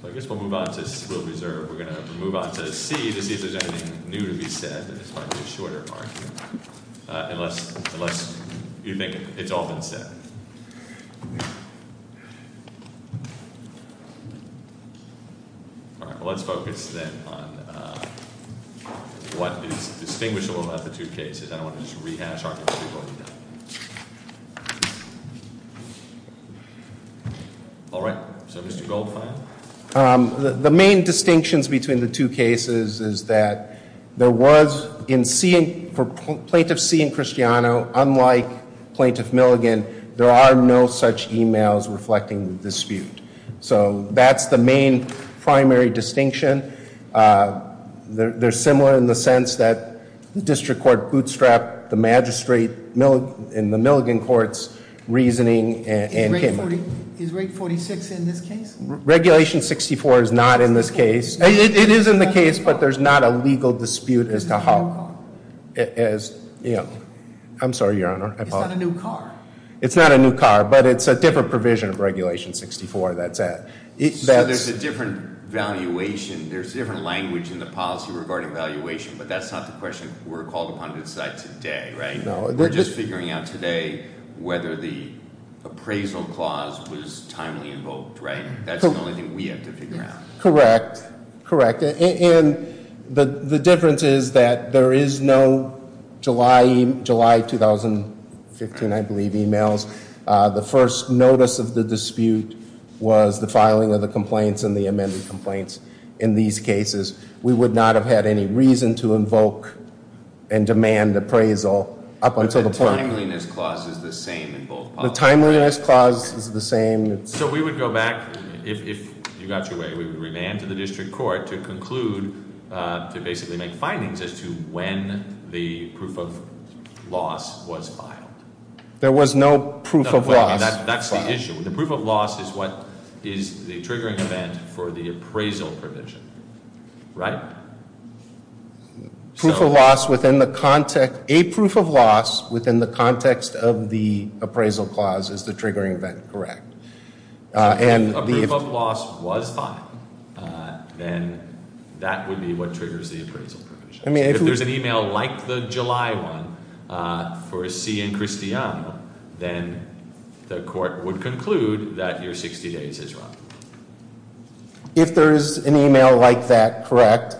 So I guess we'll move on to Civil Reserve. We're going to move on to C to see if there's anything new to be said. This might be a shorter argument, unless you think it's all been said. All right, well, let's focus then on what is distinguishable about the two cases. I don't want to just rehash arguments we've already done. All right, so Mr. Goldfein? The main distinctions between the two cases is that there was, in plaintiff C and Cristiano, unlike plaintiff Milligan, there are no such emails reflecting the dispute. So that's the main primary distinction. They're similar in the sense that district court bootstrapped the magistrate in the Milligan court's reasoning. Is rate 46 in this case? Regulation 64 is not in this case. It is in the case, but there's not a legal dispute as to how. Is it a new car? I'm sorry, Your Honor. It's not a new car. But it's a different provision of Regulation 64 that's at. So there's a different valuation. There's different language in the policy regarding valuation, but that's not the question we're called upon to decide today, right? We're just figuring out today whether the appraisal clause was timely invoked, right? That's the only thing we have to figure out. Correct, correct. And the difference is that there is no July 2015, I believe, emails. The first notice of the dispute was the filing of the complaints and the amended complaints. In these cases, we would not have had any reason to invoke and demand appraisal up until the point. But the timeliness clause is the same in both policies. The timeliness clause is the same. So we would go back, if you got your way, we would remand to the district court to conclude, to basically make findings as to when the proof of loss was filed. There was no proof of loss. That's the issue. The proof of loss is what is the triggering event for the appraisal provision, right? A proof of loss within the context of the appraisal clause is the triggering event, correct? If a proof of loss was filed, then that would be what triggers the appraisal provision. If there's an email like the July one for C and Cristiano, then the court would conclude that your 60 days is wrong. If there is an email like that, correct.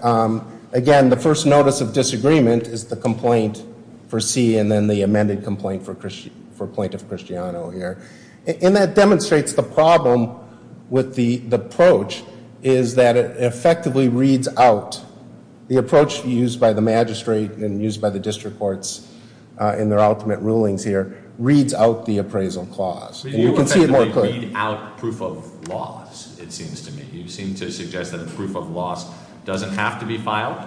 Again, the first notice of disagreement is the complaint for C and then the amended complaint for plaintiff Cristiano here. And that demonstrates the problem with the approach is that it effectively reads out the approach used by the magistrate and used by the district courts in their ultimate rulings here, reads out the appraisal clause. And you can see it more clearly. You effectively read out proof of loss, it seems to me. You seem to suggest that a proof of loss doesn't have to be filed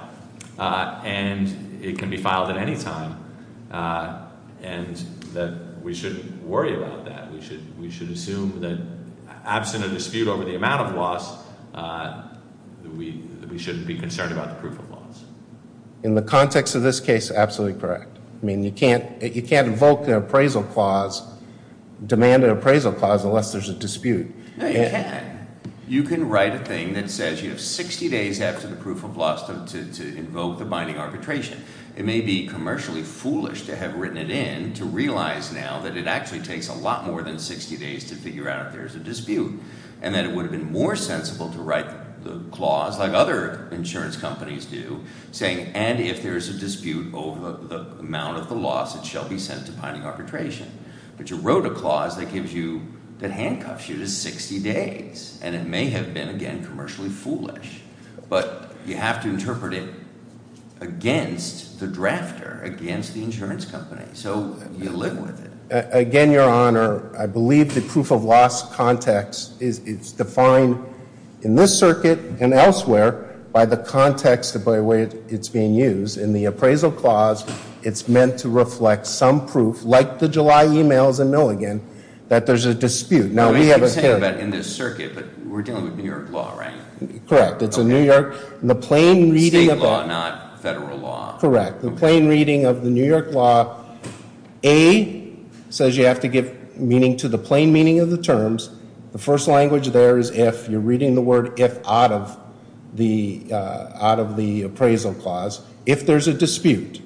and it can be filed at any time. And that we shouldn't worry about that. We should assume that absent a dispute over the amount of loss, we shouldn't be concerned about the proof of loss. In the context of this case, absolutely correct. I mean, you can't invoke an appraisal clause, demand an appraisal clause unless there's a dispute. No, you can. You can write a thing that says you have 60 days after the proof of loss to invoke the binding arbitration. It may be commercially foolish to have written it in to realize now that it actually takes a lot more than 60 days to figure out if there's a dispute. And that it would have been more sensible to write the clause, like other insurance companies do, saying, and if there's a dispute over the amount of the loss, it shall be sent to binding arbitration. But you wrote a clause that gives you, that handcuffs you to 60 days. And it may have been, again, commercially foolish. But you have to interpret it against the drafter, against the insurance company. So you live with it. Again, Your Honor, I believe the proof of loss context is defined in this circuit and elsewhere by the context of the way it's being used. In the appraisal clause, it's meant to reflect some proof, like the July emails in Milligan, that there's a dispute. Now, we have a- I was going to say that in this circuit, but we're dealing with New York law, right? Correct. It's in New York. The plain reading of- State law, not federal law. Correct. The plain reading of the New York law, A, says you have to give meaning to the plain meaning of the terms. The first language there is if. You're reading the word if out of the appraisal clause. If there's a dispute,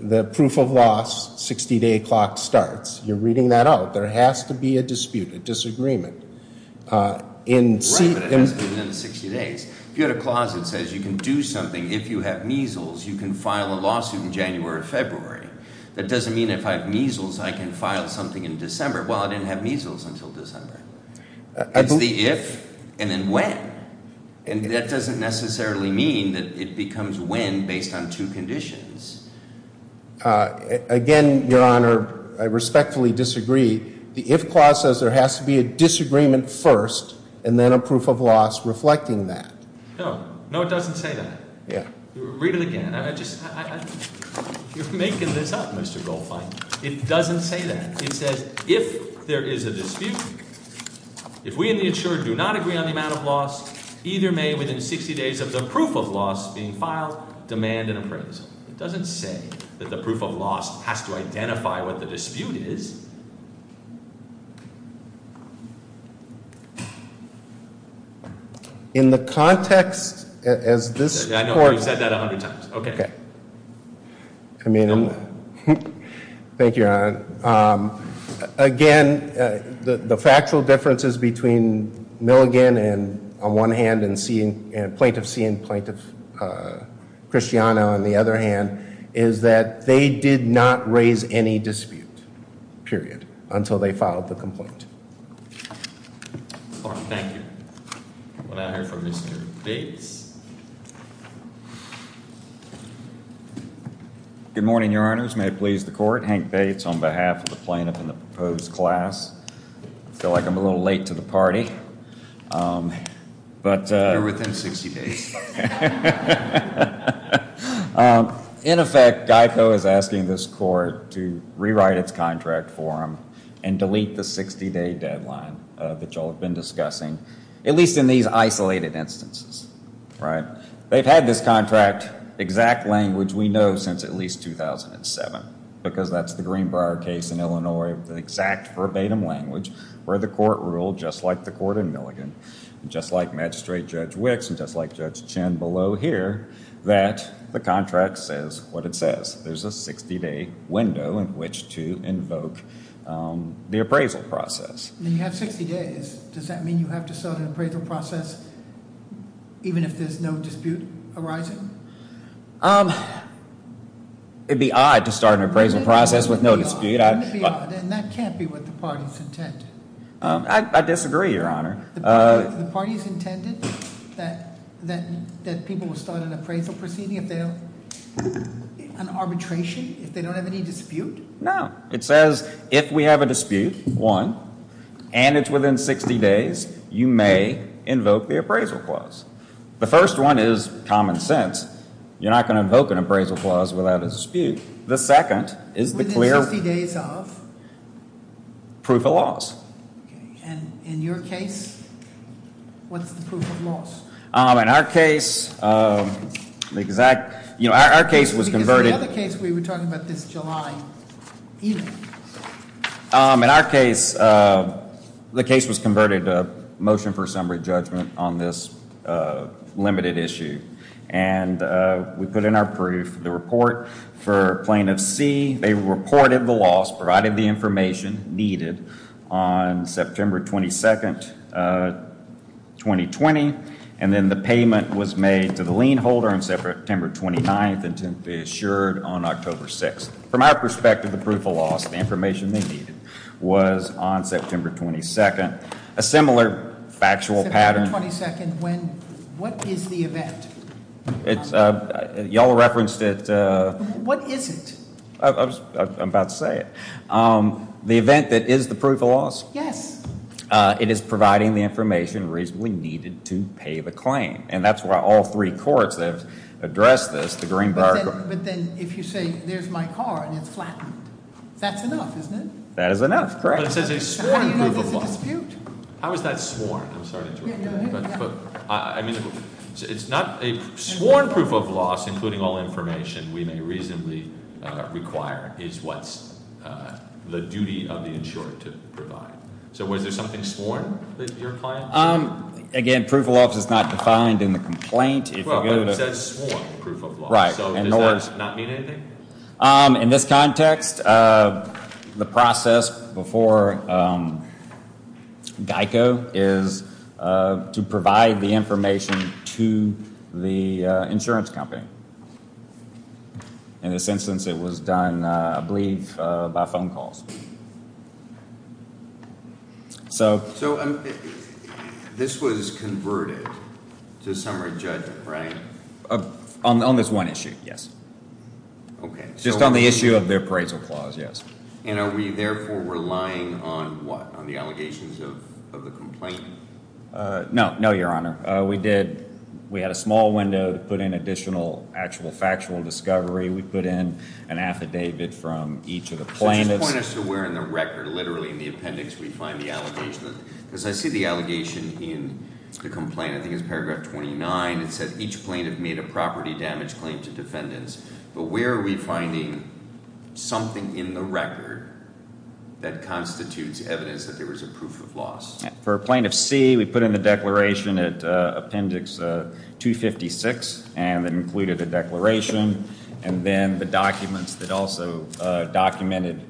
the proof of loss 60-day clock starts. You're reading that out. There has to be a dispute, a disagreement. Right, but it hasn't been in 60 days. If you had a clause that says you can do something if you have measles, you can file a lawsuit in January or February. That doesn't mean if I have measles, I can file something in December. Well, I didn't have measles until December. It's the if and then when, and that doesn't necessarily mean that it becomes when based on two conditions. Again, Your Honor, I respectfully disagree. The if clause says there has to be a disagreement first and then a proof of loss reflecting that. No, it doesn't say that. Read it again. You're making this up, Mr. Goldfein. It doesn't say that. It says if there is a dispute, if we in the insured do not agree on the amount of loss, either may, within 60 days of the proof of loss being filed, demand an appraisal. It doesn't say that the proof of loss has to identify what the dispute is. In the context as this court- I know, you've said that a hundred times. Okay. I mean- Thank you, Your Honor. Again, the factual differences between Milligan and, on one hand, Plaintiff C and Plaintiff Christiana, on the other hand, is that they did not raise any dispute, period, until they filed the complaint. Thank you. We'll now hear from Mr. Bates. Good morning, Your Honors. May it please the Court. Hank Bates on behalf of the plaintiff and the proposed class. I feel like I'm a little late to the party. You're within 60 days. In effect, GEICO is asking this court to rewrite its contract form and delete the 60-day deadline that you all have been discussing, at least in these isolated instances. They've had this contract, exact language we know, since at least 2007. Because that's the Greenbrier case in Illinois, the exact verbatim language where the court ruled, just like the court in Milligan, just like Magistrate Judge Wicks, and just like Judge Chin below here, that the contract says what it says. There's a 60-day window in which to invoke the appraisal process. And you have 60 days. Does that mean you have to start an appraisal process even if there's no dispute arising? It'd be odd to start an appraisal process with no dispute. And that can't be what the party's intent. I disagree, Your Honor. The party's intended that people will start an appraisal proceeding if they have an arbitration, if they don't have any dispute? No. It says if we have a dispute, one, and it's within 60 days, you may invoke the appraisal clause. The first one is common sense. You're not going to invoke an appraisal clause without a dispute. The second is the clear... Within 60 days of? Proof of laws. Okay. And in your case, what's the proof of laws? In our case, the exact... Our case was converted... In our case, the case was converted to motion for summary judgment on this limited issue. And we put in our proof, the report for plaintiff C. They reported the loss, provided the information needed on September 22nd, 2020. And then the payment was made to the lien holder on September 29th and to be assured on October 6th. From our perspective, the proof of laws, the information they needed, was on September 22nd. A similar factual pattern... September 22nd, when, what is the event? It's... You all referenced it... What is it? I'm about to say it. The event that is the proof of laws? Yes. It is providing the information reasonably needed to pay the claim. And that's why all three courts have addressed this. But then if you say, there's my car and it's flattened, that's enough, isn't it? That is enough, correct. But it says a sworn proof of loss. How is that sworn? I'm sorry to interrupt you. Yeah, go ahead. I mean, it's not a sworn proof of loss, including all information we may reasonably require, is what's the duty of the insurer to provide. So was there something sworn that your client said? Again, proof of laws is not defined in the complaint. Well, it says sworn proof of loss, so does that not mean anything? In this context, the process before GEICO is to provide the information to the insurance company. In this instance, it was done, I believe, by phone calls. So this was converted to summary judgment, right? On this one issue, yes. Okay. Just on the issue of the appraisal clause, yes. And are we therefore relying on what? On the allegations of the complaint? No, no, Your Honor. We had a small window to put in additional actual factual discovery. We put in an affidavit from each of the plaintiffs. Point us to where in the record, literally in the appendix, we find the allegation. Because I see the allegation in the complaint, I think it's paragraph 29. It said each plaintiff made a property damage claim to defendants. But where are we finding something in the record that constitutes evidence that there was a proof of loss? For Plaintiff C, we put in the declaration at appendix 256, and it included a declaration. And then the documents that also documented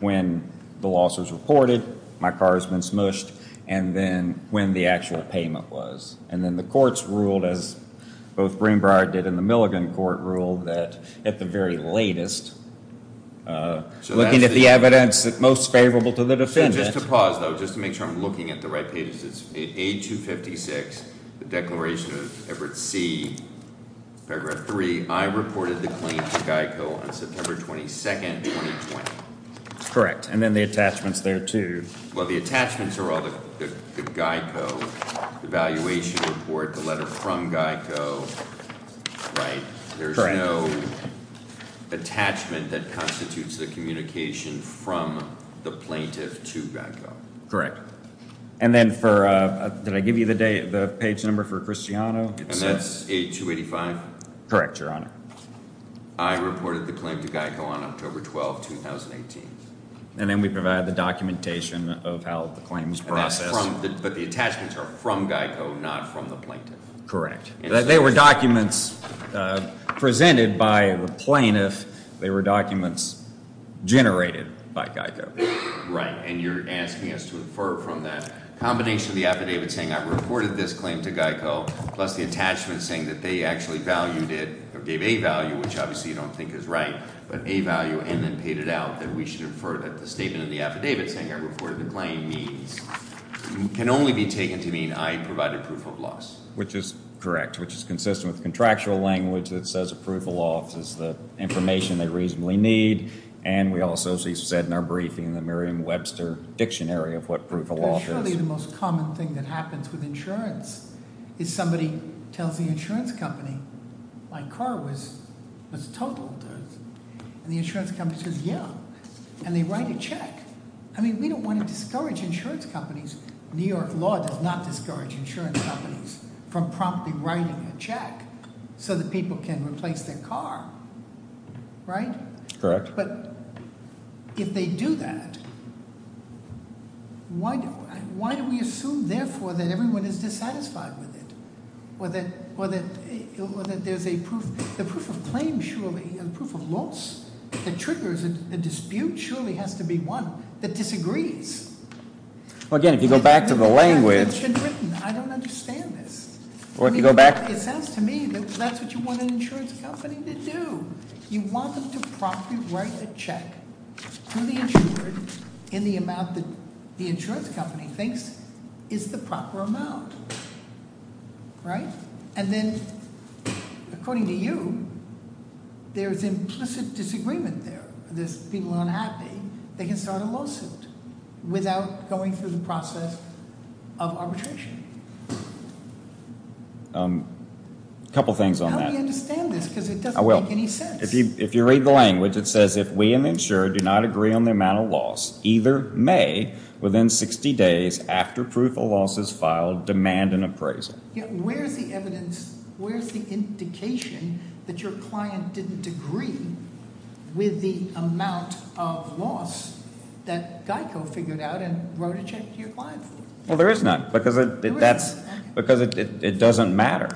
when the loss was reported, my car has been smushed, and then when the actual payment was. And then the courts ruled, as both Breenbriar did and the Milligan court ruled, that at the very latest, looking at the evidence that's most favorable to the defendant. Just to pause, though, just to make sure I'm looking at the right pages. It's A256, the declaration of Everett C, paragraph 3. I reported the claim to GEICO on September 22nd, 2020. Correct. And then the attachments there, too. Well, the attachments are all the GEICO evaluation report, the letter from GEICO. There's no attachment that constitutes the communication from the plaintiff to GEICO. Correct. And then for, did I give you the page number for Cristiano? And that's A285? Correct, Your Honor. I reported the claim to GEICO on October 12th, 2018. And then we provide the documentation of how the claims process. But the attachments are from GEICO, not from the plaintiff. Correct. They were documents presented by the plaintiff. They were documents generated by GEICO. Right, and you're asking us to infer from that combination of the affidavit saying I reported this claim to GEICO, plus the attachment saying that they actually valued it, or gave A value, which obviously you don't think is right, but A value and then paid it out, that we should infer that the statement in the affidavit saying I reported the claim can only be taken to mean I provided proof of loss. Which is correct, which is consistent with the contractual language that says a proof of loss is the information they reasonably need. And we also, as he said in our briefing, the Merriam-Webster dictionary of what proof of loss is. But surely the most common thing that happens with insurance is somebody tells the insurance company, my car was totaled, and the insurance company says, yeah, and they write a check. I mean, we don't want to discourage insurance companies. New York law does not discourage insurance companies from promptly writing a check so that people can replace their car, right? Correct. But if they do that, why do we assume, therefore, that everyone is dissatisfied with it? Or that there's a proof, the proof of claim, surely, and proof of loss that triggers a dispute, surely has to be one that disagrees. Well, again, if you go back to the language- It's been written. I don't understand this. Or if you go back- It sounds to me that that's what you want an insurance company to do. You want them to promptly write a check to the insured in the amount that the insurance company thinks is the proper amount, right? And then, according to you, there's implicit disagreement there. There's people unhappy. They can start a lawsuit without going through the process of arbitration. A couple things on that. Help me understand this because it doesn't make any sense. If you read the language, it says, If we in the insurer do not agree on the amount of loss, either may, within 60 days after proof of loss is filed, demand an appraisal. Where's the evidence, where's the indication that your client didn't agree with the amount of loss that GEICO figured out and wrote a check to your client for? Well, there is none because it doesn't matter.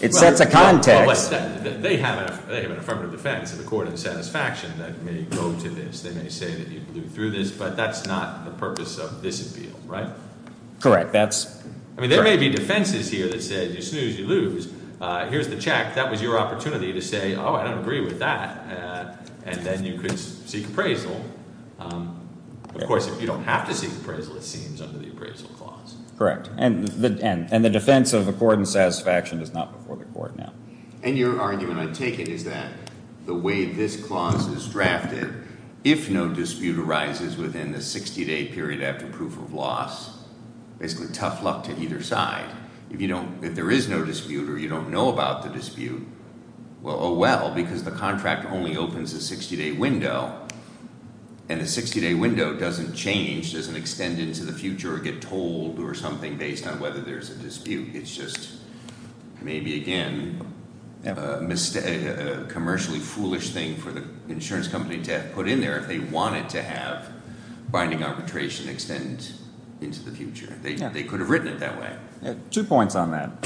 It sets a context. They have an affirmative defense of accord and satisfaction that may go to this. They may say that you blew through this, but that's not the purpose of this appeal, right? Correct. I mean, there may be defenses here that said you snooze, you lose. Here's the check. That was your opportunity to say, oh, I don't agree with that. And then you could seek appraisal. Of course, if you don't have to seek appraisal, it seems, under the appraisal clause. Correct. And the defense of accord and satisfaction is not before the court now. And your argument, I take it, is that the way this clause is drafted, if no dispute arises within the 60-day period after proof of loss, basically tough luck to either side. If there is no dispute or you don't know about the dispute, well, oh, well, because the contract only opens a 60-day window. And the 60-day window doesn't change, doesn't extend into the future or get told or something based on whether there's a dispute. It's just maybe, again, a commercially foolish thing for the insurance company to have put in there if they wanted to have binding arbitration extend into the future. They could have written it that way. Two points on that.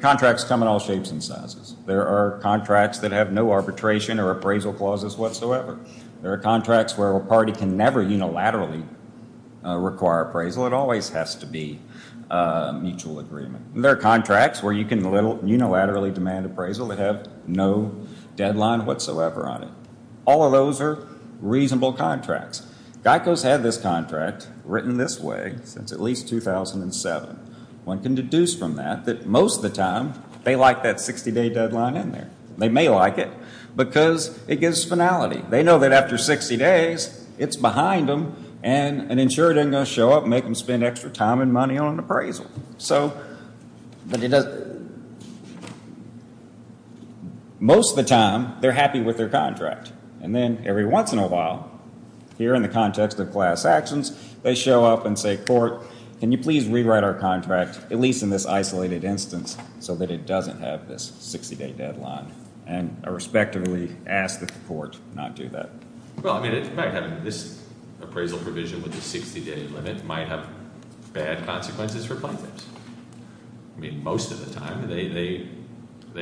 Contracts come in all shapes and sizes. There are contracts that have no arbitration or appraisal clauses whatsoever. There are contracts where a party can never unilaterally require appraisal. It always has to be a mutual agreement. There are contracts where you can unilaterally demand appraisal that have no deadline whatsoever on it. All of those are reasonable contracts. GEICO's had this contract written this way since at least 2007. One can deduce from that that most of the time they like that 60-day deadline in there. They may like it because it gives finality. They know that after 60 days it's behind them and an insurer isn't going to show up and make them spend extra time and money on an appraisal. So most of the time they're happy with their contract. And then every once in a while, here in the context of class actions, they show up and say, Court, can you please rewrite our contract, at least in this isolated instance, so that it doesn't have this 60-day deadline? And I respectively ask that the court not do that. Well, I mean, in fact, having this appraisal provision with the 60-day limit might have bad consequences for plaintiffs. I mean, most of the time they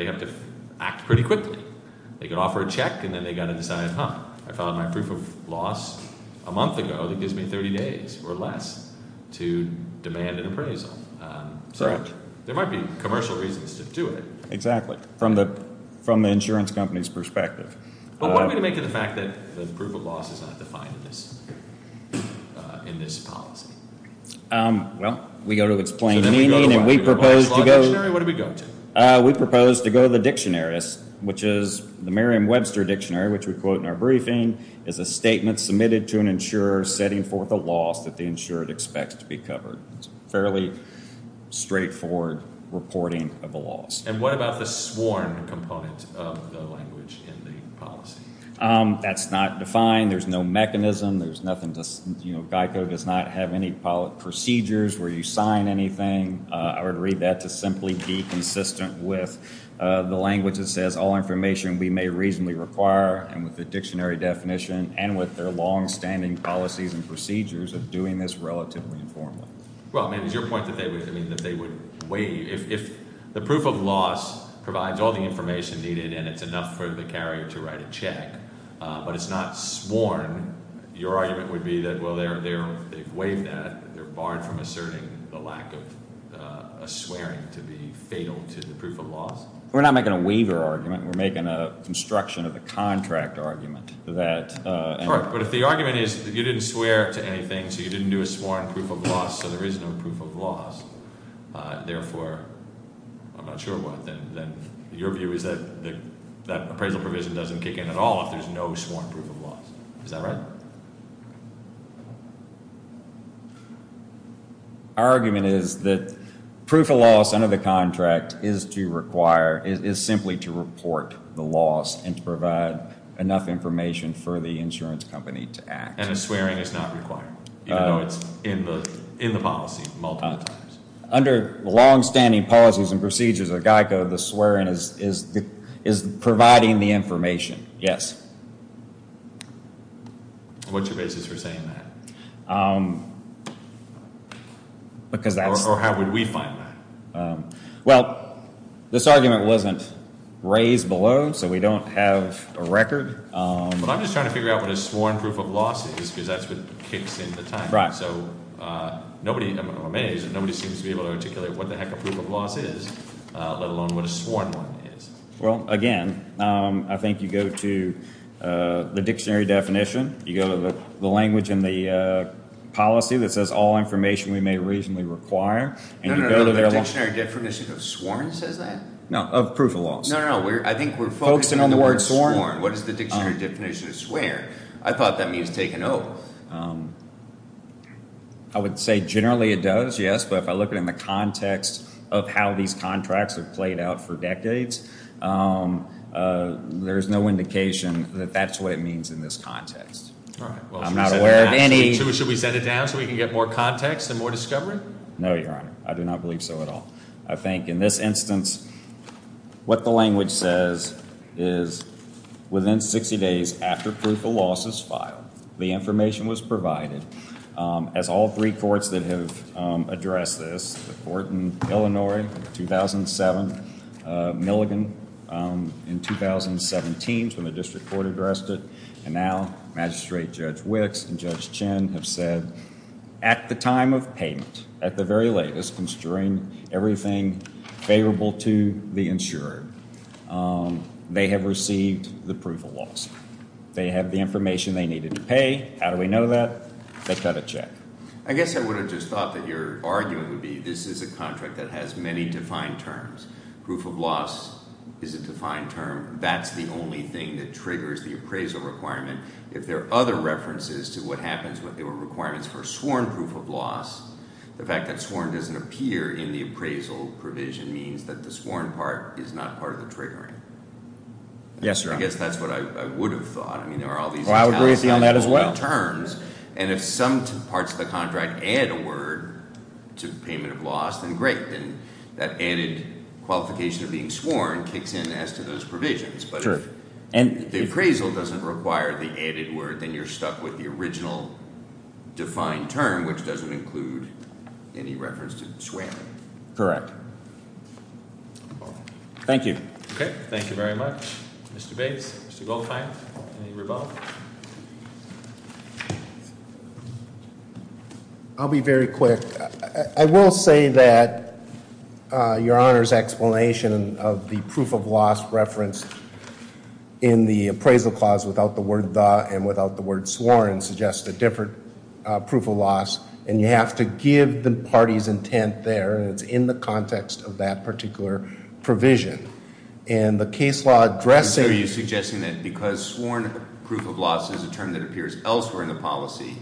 have to act pretty quickly. They could offer a check, and then they've got to decide, huh, I filed my proof of loss a month ago. It gives me 30 days or less to demand an appraisal. So there might be commercial reasons to do it. Exactly. From the insurance company's perspective. But what would it make of the fact that the proof of loss is not defined in this policy? Well, we go to explain meaning and we propose to go. What do we go to? We propose to go to the dictionaries, which is the Merriam-Webster Dictionary, which we quote in our briefing, is a statement submitted to an insurer setting forth a loss that the insurer expects to be covered. Fairly straightforward reporting of the loss. And what about the sworn component of the language in the policy? That's not defined. There's no mechanism. There's nothing to, you know, Geico does not have any procedures where you sign anything. I would read that to simply be consistent with the language that says all information we may reasonably require, and with the dictionary definition and with their longstanding policies and procedures of doing this relatively informally. Well, I mean, it's your point that they would, I mean, that they would waive. If the proof of loss provides all the information needed and it's enough for the carrier to write a check, but it's not sworn, your argument would be that, well, they've waived that. They're barred from asserting the lack of a swearing to be fatal to the proof of loss. We're not making a waiver argument. We're making a construction of a contract argument that- All right. But if the argument is that you didn't swear to anything, so you didn't do a sworn proof of loss, so there is no proof of loss, therefore, I'm not sure what, then your view is that that appraisal provision doesn't kick in at all if there's no sworn proof of loss. Is that right? Our argument is that proof of loss under the contract is to require, is simply to report the loss and to provide enough information for the insurance company to act. And a swearing is not required, even though it's in the policy multiple times. Under the longstanding policies and procedures of GEICO, the swearing is providing the information. Yes. What's your basis for saying that? Because that's- Or how would we find that? Well, this argument wasn't raised below, so we don't have a record. But I'm just trying to figure out what a sworn proof of loss is because that's what kicks in at the time. Right. I'm amazed that nobody seems to be able to articulate what the heck a proof of loss is, let alone what a sworn one is. Well, again, I think you go to the dictionary definition. You go to the language in the policy that says all information we may reasonably require. No, no, no, the dictionary definition of sworn says that? No, of proof of loss. No, no, no, I think we're focusing on the word sworn. What is the dictionary definition of swear? I thought that means take a note. I would say generally it does, yes. But if I look at it in the context of how these contracts have played out for decades, there's no indication that that's what it means in this context. Right. I'm not aware of any- Should we set it down so we can get more context and more discovery? No, Your Honor. I do not believe so at all. I think in this instance what the language says is within 60 days after proof of loss is filed, the information was provided. As all three courts that have addressed this, the court in Illinois in 2007, Milligan in 2017 is when the district court addressed it, and now Magistrate Judge Wicks and Judge Chin have said at the time of payment, at the very latest, considering everything favorable to the insurer, they have received the proof of loss. They have the information they needed to pay. How do we know that? They cut a check. I guess I would have just thought that your argument would be this is a contract that has many defined terms. Proof of loss is a defined term. That's the only thing that triggers the appraisal requirement. If there are other references to what happens when there are requirements for sworn proof of loss, the fact that sworn doesn't appear in the appraisal provision means that the sworn part is not part of the triggering. Yes, Your Honor. I guess that's what I would have thought. I mean, there are all these- Well, I would agree with you on that as well. And if some parts of the contract add a word to payment of loss, then great. Then that added qualification of being sworn kicks in as to those provisions. But if the appraisal doesn't require the added word, then you're stuck with the original defined term, which doesn't include any reference to swamming. Correct. Thank you. Okay. Thank you very much. Mr. Bates, Mr. Goldfein, any rebuttal? I'll be very quick. I will say that Your Honor's explanation of the proof of loss referenced in the appraisal clause without the word the and without the word sworn suggests a different proof of loss. And you have to give the party's intent there, and it's in the context of that particular provision. And the case law addressing- Proof of loss is a term that appears elsewhere in the policy.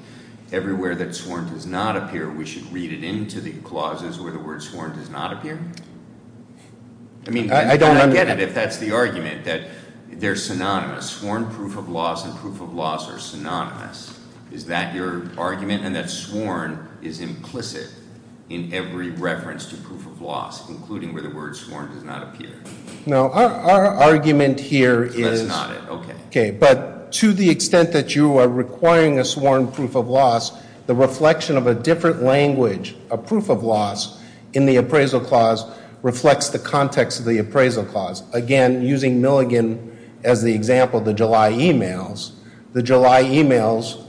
Everywhere that sworn does not appear, we should read it into the clauses where the word sworn does not appear? I mean- I don't understand. If that's the argument, that they're synonymous. Sworn proof of loss and proof of loss are synonymous. Is that your argument? And that sworn is implicit in every reference to proof of loss, including where the word sworn does not appear? No. Our argument here is- That's not it. Okay, but to the extent that you are requiring a sworn proof of loss, the reflection of a different language, a proof of loss, in the appraisal clause reflects the context of the appraisal clause. Again, using Milligan as the example, the July e-mails. The July e-mails,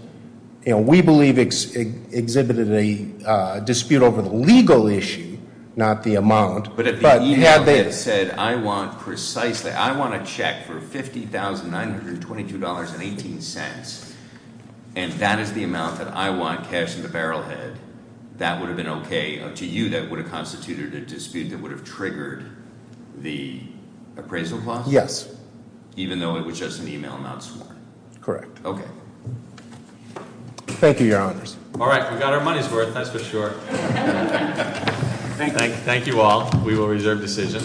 you know, we believe exhibited a dispute over the legal issue, not the amount. But if the e-mail said, I want precisely, I want a check for $50,922.18, and that is the amount that I want cash in the barrel head, that would have been okay? To you, that would have constituted a dispute that would have triggered the appraisal clause? Yes. Even though it was just an e-mail not sworn? Correct. Okay. Thank you, Your Honors. All right, we got our money's worth, that's for sure. Thank you all. We will reserve decision.